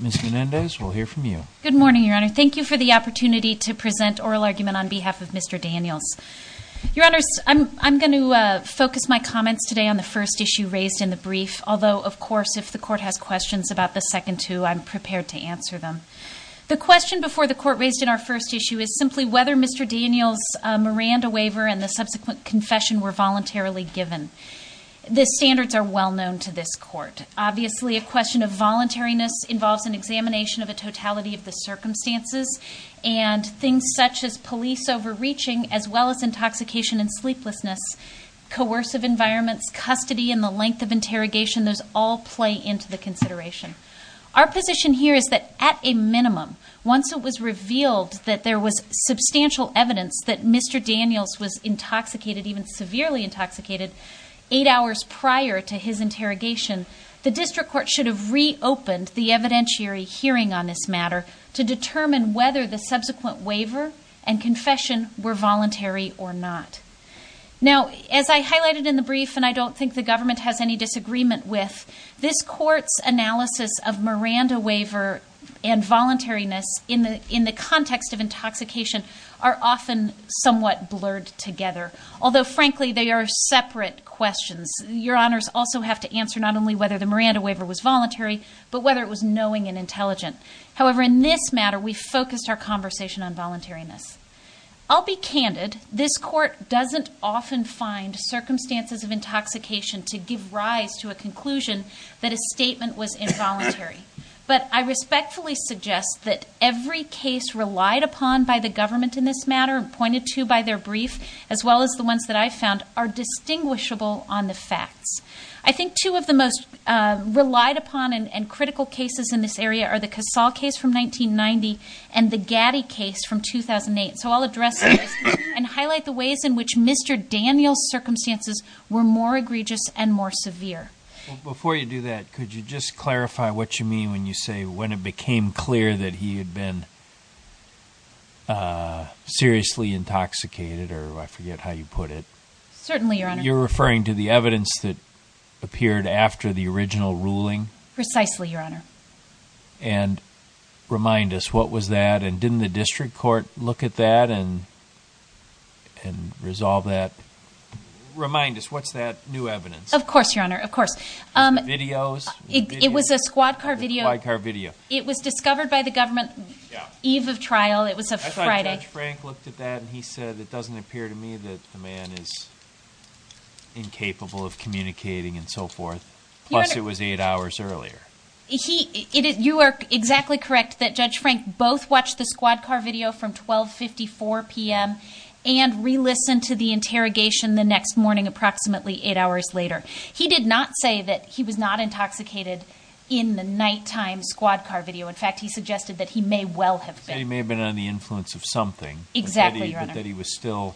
Ms. Menendez, we'll hear from you. Good morning, Your Honor. Thank you for the opportunity to present oral argument on behalf of Mr. Daniels. Your Honor, I'm going to focus my comments today on the first issue raised in the brief, although, of course, if the Court has questions about the second two, I'm prepared to answer them. The question before the Court raised in our first issue is simply whether Mr. Daniels' Miranda waiver and the subsequent confession were voluntarily given. The standards are well known to this Court. Obviously, a question of voluntariness involves an examination of the totality of the circumstances and things such as police overreaching as well as intoxication and sleeplessness, coercive environments, custody, and the length of interrogation. Those all play into the consideration. Our position here is that at a minimum, once it was revealed that there was substantial evidence that Mr. Daniels was intoxicated, even severely intoxicated, eight hours prior to his interrogation, the District Court should have reopened the evidentiary hearing on this matter to determine whether the subsequent waiver and confession were voluntary or not. Now, as I highlighted in the brief, and I don't think the government has any disagreement with, this Court's analysis of Miranda waiver and voluntariness in the context of intoxication are often somewhat blurred together. Although, frankly, they are separate questions. Your Honors also have to answer not only whether the Miranda waiver was voluntary, but whether it was knowing and intelligent. However, in this matter, we focused our conversation on voluntariness. I'll be candid. This Court doesn't often find circumstances of intoxication to give rise to a conclusion that a statement was involuntary. But I respectfully suggest that every case relied upon by the government in this matter, pointed to by their brief, as well as the ones that I found, are distinguishable on the facts. I think two of the most relied upon and critical cases in this area are the Casal case from 1990 and the Gaddy case from 2008. So I'll address those and highlight the ways in which Mr. Daniels' circumstances were more egregious and more severe. Before you do that, could you just clarify what you mean when you say when it became clear that he had been seriously intoxicated, or I forget how you put it. Certainly, Your Honor. You're referring to the evidence that appeared after the original ruling? Precisely, Your Honor. And remind us, what was that? And didn't the District Court look at that and resolve that? Remind us, what's that new evidence? Of course, Your Honor, of course. Videos? It was a squad car video. A squad car video. It was discovered by the government eve of trial. It was a Friday. I thought Judge Frank looked at that and he said, it doesn't appear to me that the man is incapable of communicating and so forth. Plus, it was eight hours earlier. You are exactly correct that Judge Frank both watched the squad car video from 1254 p.m. and re-listened to the interrogation the next morning approximately eight hours later. He did not say that he was not intoxicated in the nighttime squad car video. In fact, he suggested that he may well have been. That he may have been under the influence of something. Exactly, Your Honor. But that he was still,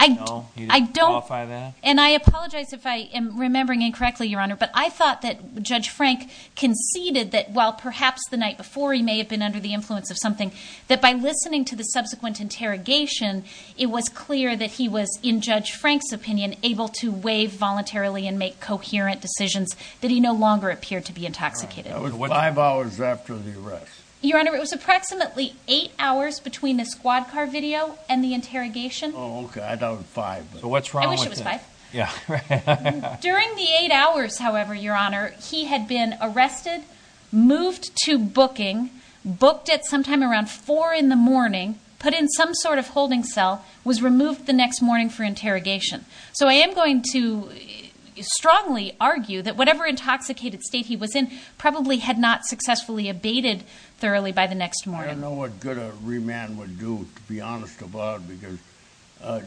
you know, he didn't qualify that? And I apologize if I am remembering incorrectly, Your Honor, but I thought that Judge Frank conceded that, while perhaps the night before he may have been under the influence of something, that by listening to the subsequent interrogation, it was clear that he was, in Judge Frank's opinion, able to waive voluntarily and make coherent decisions that he no longer appeared to be intoxicated. That was five hours after the arrest. Your Honor, it was approximately eight hours between the squad car video and the interrogation. Oh, okay. I thought it was five. But what's wrong with that? I wish it was five. Yeah. During the eight hours, however, Your Honor, he had been arrested, moved to booking, booked at sometime around four in the morning, put in some sort of holding cell, was removed the next morning for interrogation. So I am going to strongly argue that whatever intoxicated state he was in probably had not successfully abated thoroughly by the next morning. I don't know what good a remand would do, to be honest about it, because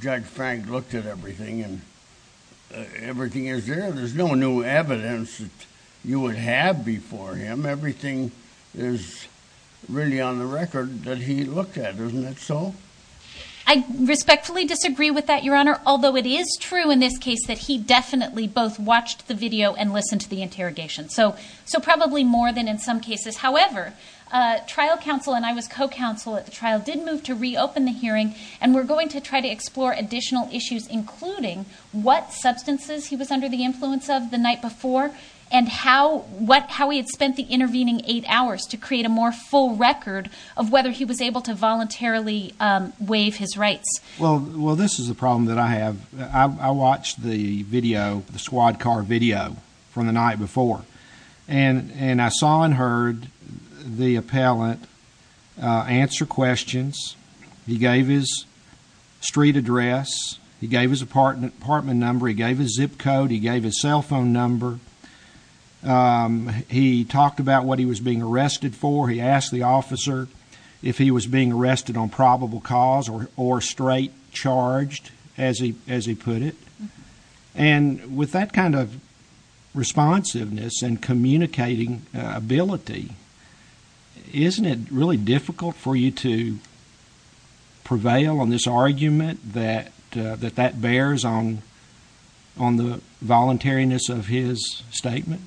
Judge Frank looked at everything and everything is there. There's no new evidence that you would have before him. Everything is really on the record that he looked at. Isn't that so? I respectfully disagree with that, Your Honor, although it is true in this case that he definitely both watched the video and listened to the interrogation. So probably more than in some cases. However, trial counsel and I was co-counsel at the trial did move to reopen the hearing, and we're going to try to explore additional issues, including what substances he was under the influence of the night before and how he had spent the intervening eight hours to create a more full record of whether he was able to voluntarily waive his rights. Well, this is a problem that I have. I watched the video, the squad car video, from the night before, and I saw and heard the appellant answer questions. He gave his street address. He gave his apartment number. He gave his zip code. He gave his cell phone number. He talked about what he was being arrested for. He asked the officer if he was being arrested on probable cause or straight charged, as he put it. And with that kind of responsiveness and communicating ability, isn't it really difficult for you to prevail on this argument that that bears on the voluntariness of his statement?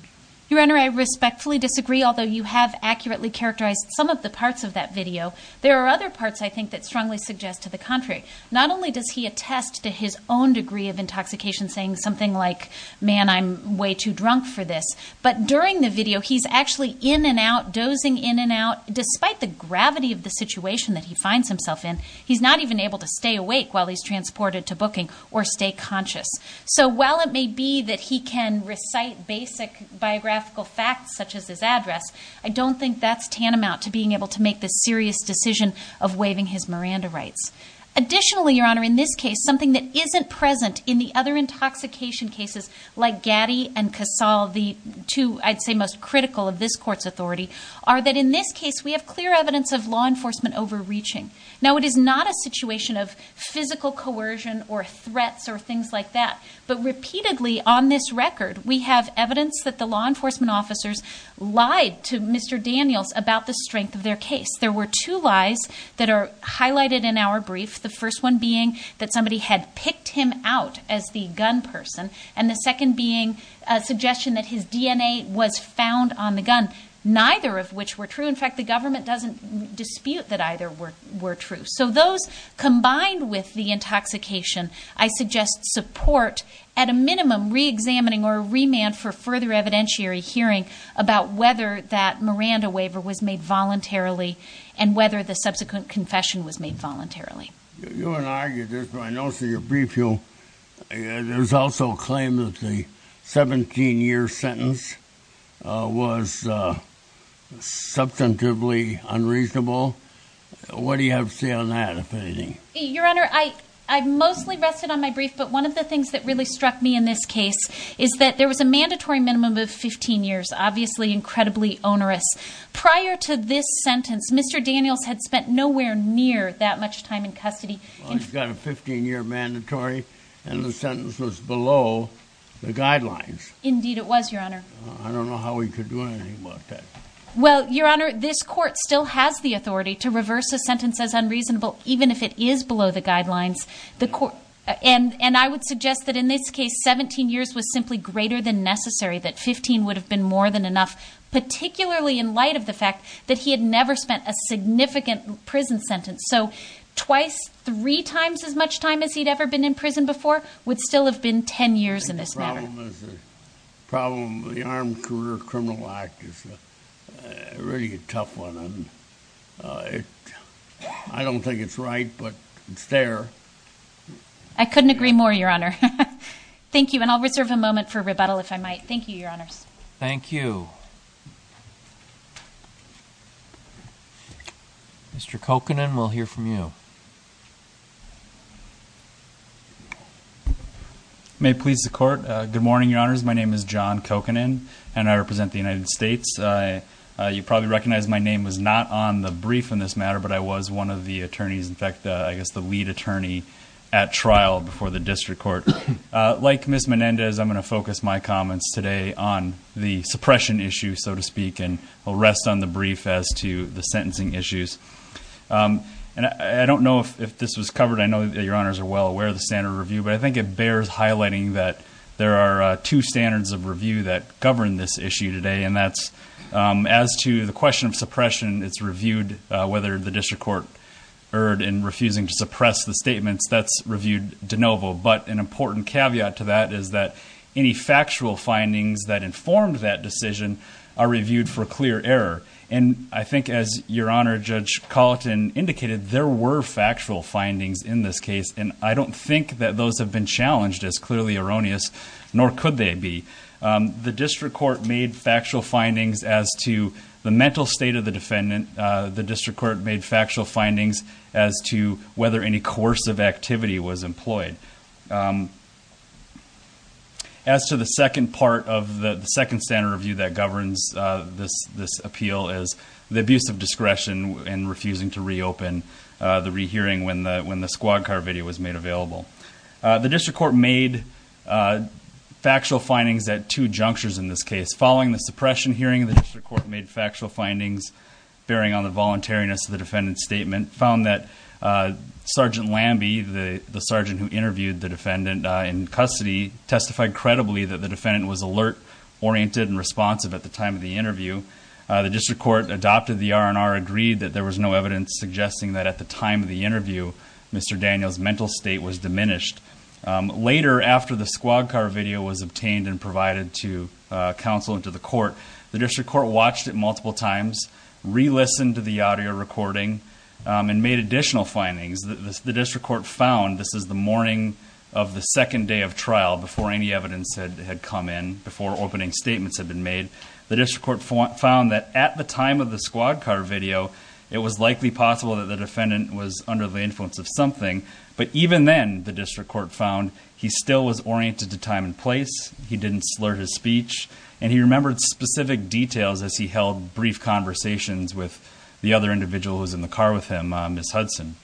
Your Honor, I respectfully disagree, although you have accurately characterized some of the parts of that video. There are other parts, I think, that strongly suggest to the contrary. Not only does he attest to his own degree of intoxication, saying something like, man, I'm way too drunk for this, but during the video, he's actually in and out, dozing in and out. Despite the gravity of the situation that he finds himself in, he's not even able to stay awake while he's transported to booking or stay conscious. So while it may be that he can recite basic biographical facts, such as his address, I don't think that's tantamount to being able to make the serious decision of waiving his Miranda rights. Additionally, Your Honor, in this case, something that isn't present in the other intoxication cases, like Gaddy and Casal, the two I'd say most critical of this court's authority, are that in this case, we have clear evidence of law enforcement overreaching. Now, it is not a situation of physical coercion or threats or things like that, but repeatedly on this record, we have evidence that the law enforcement officers lied to Mr. Daniels about the strength of their case. There were two lies that are highlighted in our brief, the first one being that somebody had picked him out as the gun person, and the second being a suggestion that his DNA was found on the gun, neither of which were true. In fact, the government doesn't dispute that either were true. So those, combined with the intoxication, I suggest support at a minimum reexamining or a remand for further evidentiary hearing about whether that Miranda waiver was made voluntarily and whether the subsequent confession was made voluntarily. You and I get this, but I know through your brief, there's also a claim that the 17-year sentence was substantively unreasonable. What do you have to say on that, if anything? Your Honor, I mostly rested on my brief, but one of the things that really struck me in this case is that there was a mandatory minimum of 15 years, obviously incredibly onerous. Prior to this sentence, Mr. Daniels had spent nowhere near that much time in custody. Well, he's got a 15-year mandatory, and the sentence was below the guidelines. Indeed it was, Your Honor. I don't know how he could do anything about that. Well, Your Honor, this Court still has the authority to reverse a sentence as unreasonable, even if it is below the guidelines. And I would suggest that in this case, 17 years was simply greater than necessary, that 15 would have been more than enough, particularly in light of the fact that he had never spent a significant prison sentence. So twice, three times as much time as he'd ever been in prison before would still have been 10 years in this matter. I think the problem with the Armed Career Criminal Act is really a tough one. I don't think it's right, but it's there. I couldn't agree more, Your Honor. Thank you, and I'll reserve a moment for rebuttal, if I might. Thank you, Your Honors. Thank you. Mr. Kokanen, we'll hear from you. May it please the Court. Good morning, Your Honors. My name is John Kokanen, and I represent the United States. You probably recognize my name was not on the brief in this matter, but I was one of the attorneys, in fact, I guess the lead attorney at trial before the district court. Like Ms. Menendez, I'm going to focus my comments today on the suppression issue, so to speak, and I'll rest on the brief as to the sentencing issues. I don't know if this was covered. I know that Your Honors are well aware of the standard of review, but I think it bears highlighting that there are two standards of review that govern this issue today, and that's as to the question of suppression, it's reviewed whether the district court erred in refusing to suppress the statements. That's reviewed de novo. But an important caveat to that is that any factual findings that informed that decision are reviewed for clear error. And I think as Your Honor, Judge Colleton indicated, there were factual findings in this case, and I don't think that those have been challenged as clearly erroneous, nor could they be. The district court made factual findings as to the mental state of the defendant. The district court made factual findings as to whether any coercive activity was employed. As to the second part of the second standard review that governs this appeal is the abuse of discretion in refusing to reopen the rehearing when the squad car video was made available. The district court made factual findings at two junctures in this case. Following the suppression hearing, the district court made factual findings bearing on the voluntariness of the defendant's statement, and found that Sergeant Lambie, the sergeant who interviewed the defendant in custody, testified credibly that the defendant was alert, oriented, and responsive at the time of the interview. The district court adopted the R&R, agreed that there was no evidence suggesting that at the time of the interview, Mr. Daniel's mental state was diminished. Later, after the squad car video was obtained and provided to counsel and to the court, the district court watched it multiple times, re-listened to the audio recording, and made additional findings. The district court found, this is the morning of the second day of trial, before any evidence had come in, before opening statements had been made, the district court found that at the time of the squad car video, it was likely possible that the defendant was under the influence of something. But even then, the district court found he still was oriented to time and place, he didn't slur his speech, and he remembered specific details as he held brief conversations with the other individual who was in the car with him, Ms. Hudson.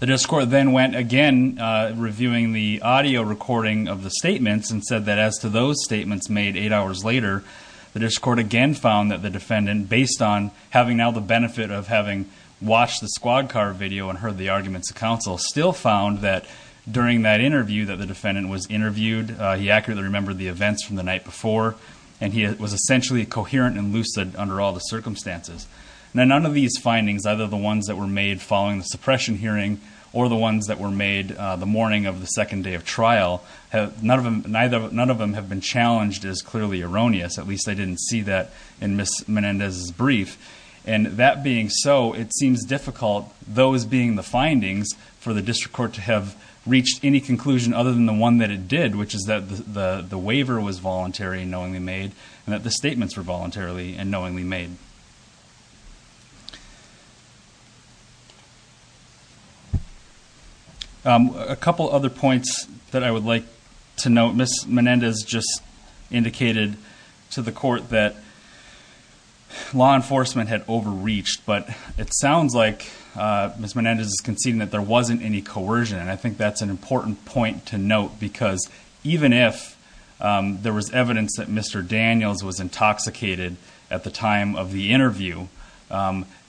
The district court then went again reviewing the audio recording of the statements and said that as to those statements made eight hours later, the district court again found that the defendant, based on having now the benefit of having watched the squad car video and heard the arguments of counsel, still found that during that interview that the defendant was interviewed, he accurately remembered the events from the night before, and he was essentially coherent and lucid under all the circumstances. Now none of these findings, either the ones that were made following the suppression hearing, or the ones that were made the morning of the second day of trial, none of them have been challenged as clearly erroneous, at least I didn't see that in Ms. Menendez's brief. And that being so, it seems difficult, those being the findings, for the district court to have reached any conclusion other than the one that it did, which is that the waiver was voluntary and knowingly made, and that the statements were voluntarily and knowingly made. A couple other points that I would like to note. Ms. Menendez just indicated to the court that law enforcement had overreached, but it sounds like Ms. Menendez is conceding that there wasn't any coercion, and I think that's an important point to note, because even if there was evidence that Mr. Daniels was intoxicated at the time of the interview,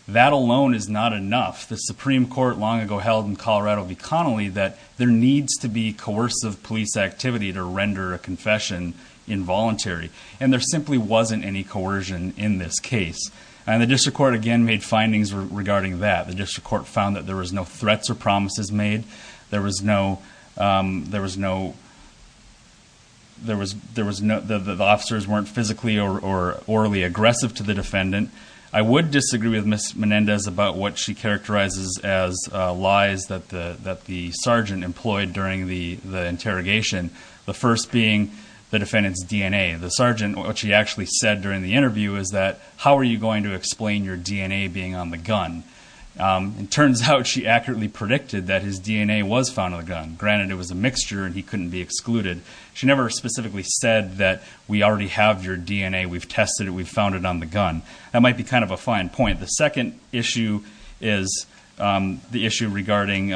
that alone is not enough. The Supreme Court long ago held in Colorado v. Connolly that there needs to be coercive police activity to render a confession involuntary, and there simply wasn't any coercion in this case. And the district court again made findings regarding that. The district court found that there was no threats or promises made. There was no... The officers weren't physically or orally aggressive to the defendant. I would disagree with Ms. Menendez about what she characterizes as lies that the sergeant employed during the interrogation, the first being the defendant's DNA. The sergeant, what she actually said during the interview is that, how are you going to explain your DNA being on the gun? It turns out she accurately predicted that his DNA was found on the gun. Granted, it was a mixture and he couldn't be excluded. She never specifically said that we already have your DNA, we've tested it, we've found it on the gun. That might be kind of a fine point. The second issue is the issue regarding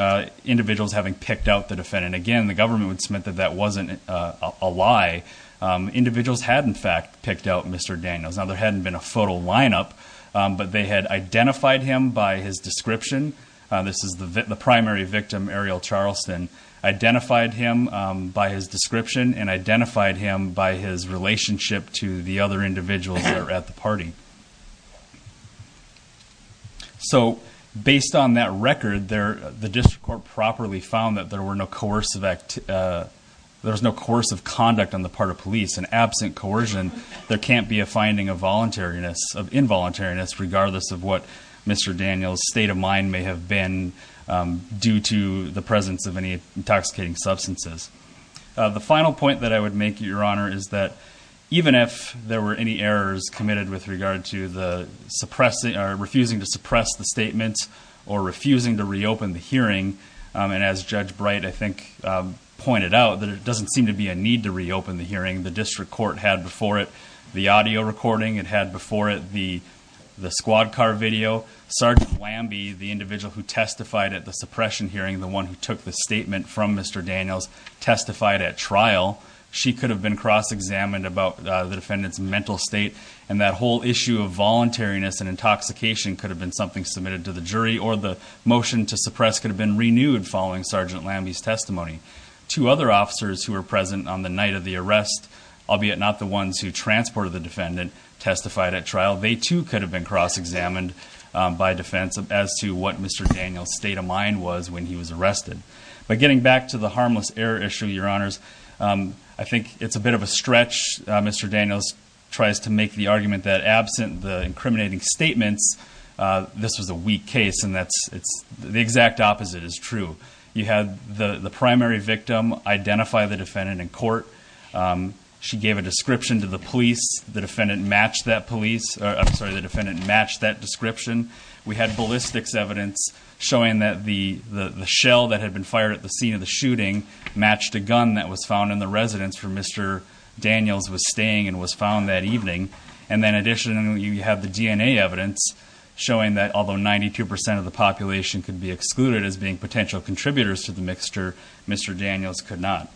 individuals having picked out the defendant. Again, the government would submit that that wasn't a lie. Individuals had in fact picked out Mr. Daniels. Now, there hadn't been a photo lineup, but they had identified him by his description. This is the primary victim, Ariel Charleston. Identified him by his description and identified him by his relationship to the other individuals that were at the party. Based on that record, the district court properly found that there were no coercive conduct on the part of police. Absent coercion, there can't be a sense of involuntariness regardless of what Mr. Daniels' state of mind may have been due to the presence of any intoxicating substances. The final point that I would make, Your Honor, is that even if there were any errors committed with regard to refusing to suppress the statement or refusing to reopen the hearing, and as Judge Bright, I think, pointed out, that it doesn't seem to be a need to reopen the hearing. The district court had before it the audio recording. It had before it the squad car video. Sgt. Lambie, the individual who testified at the suppression hearing, the one who took the statement from Mr. Daniels, testified at trial. She could have been cross-examined about the defendant's mental state, and that whole issue of voluntariness and intoxication could have been something submitted to the jury, or the motion to suppress could have been renewed following Sgt. Lambie's testimony. Two other officers who were present on the night of the arrest, albeit not the ones who transported the defendant, testified at trial. They too could have been cross-examined by defense as to what Mr. Daniels' state of mind was when he was arrested. But getting back to the harmless error issue, Your Honors, I think it's a bit of a stretch. Mr. Daniels tries to make the argument that absent the incriminating statements, this was a weak case, and that's the exact opposite is true. You had the primary victim identify the defendant in court. She gave a description to the police. The defendant matched that description. We had ballistics evidence showing that the shell that had been fired at the scene of the shooting matched a gun that was found in the residence where Mr. Daniels was staying and was found that evening. And then additionally, you have the DNA evidence showing that although 92% of the population could be excluded as being potential contributors to the mixture, Mr. Daniels could not.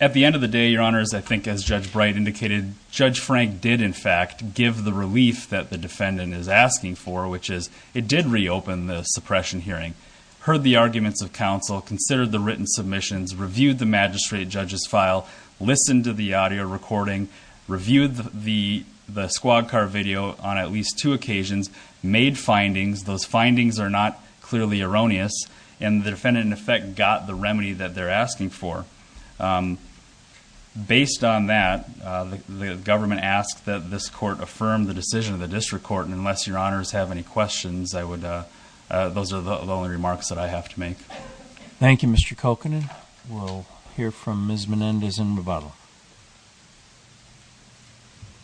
At the end of the day, Your Honors, I think as Judge Bright indicated, Judge Frank did in fact give the relief that the defendant is asking for, which is it did reopen the suppression hearing, heard the arguments of counsel, considered the written submissions, reviewed the magistrate judge's file, listened to the audio recording, reviewed the squad car video on at least two occasions, made findings. Those findings are not clearly erroneous, and the defendant in effect got the remedy that they're asking for. Based on that, the government asked that this court affirm the decision of the District Court, and unless Your Honors have any questions, I would, those are the only remarks that I have to make. Thank you, Mr. Kokanen. We'll hear from Ms. Menendez in rebuttal.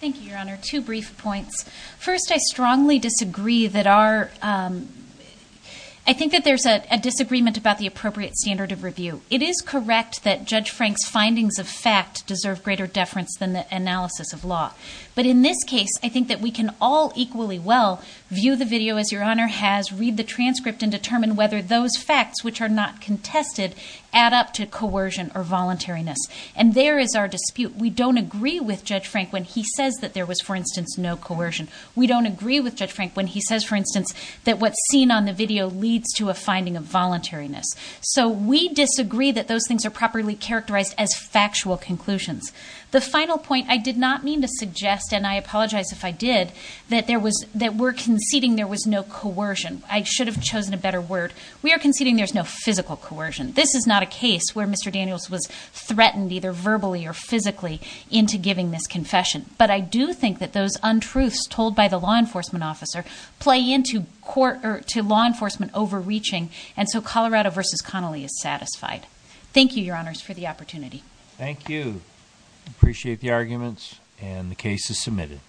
Thank you, Your Honor. Two brief points. First, I strongly disagree that our... I think that there's a disagreement about the appropriate standard of review. It is correct that Judge Frank's findings of fact deserve greater deference than the analysis of law. But in this case, I think that we can all equally well view the video as Your Honor has, read the transcript, and determine whether those facts, which are not contested, add up to coercion or voluntariness. And there is our dispute. We don't agree with Judge Frank when he says that there was, for instance, no coercion. We don't agree with Judge Frank when he says, for instance, that what's seen on the video leads to a finding of voluntariness. So we disagree that those things are properly characterized as factual conclusions. The final point I did not mean to suggest, and I apologize if I did, that there was... that we're conceding there was no coercion. I should have chosen a better word. We are conceding there's no physical coercion. This is not a case where Mr. Daniels was threatened, either verbally or physically, into giving this confession. But I do think that those untruths told by the law enforcement officer play into law enforcement overreaching, and so Colorado v. Connolly is satisfied. Thank you, Your Honors, for the opportunity. Thank you. Appreciate the arguments. And the case is submitted.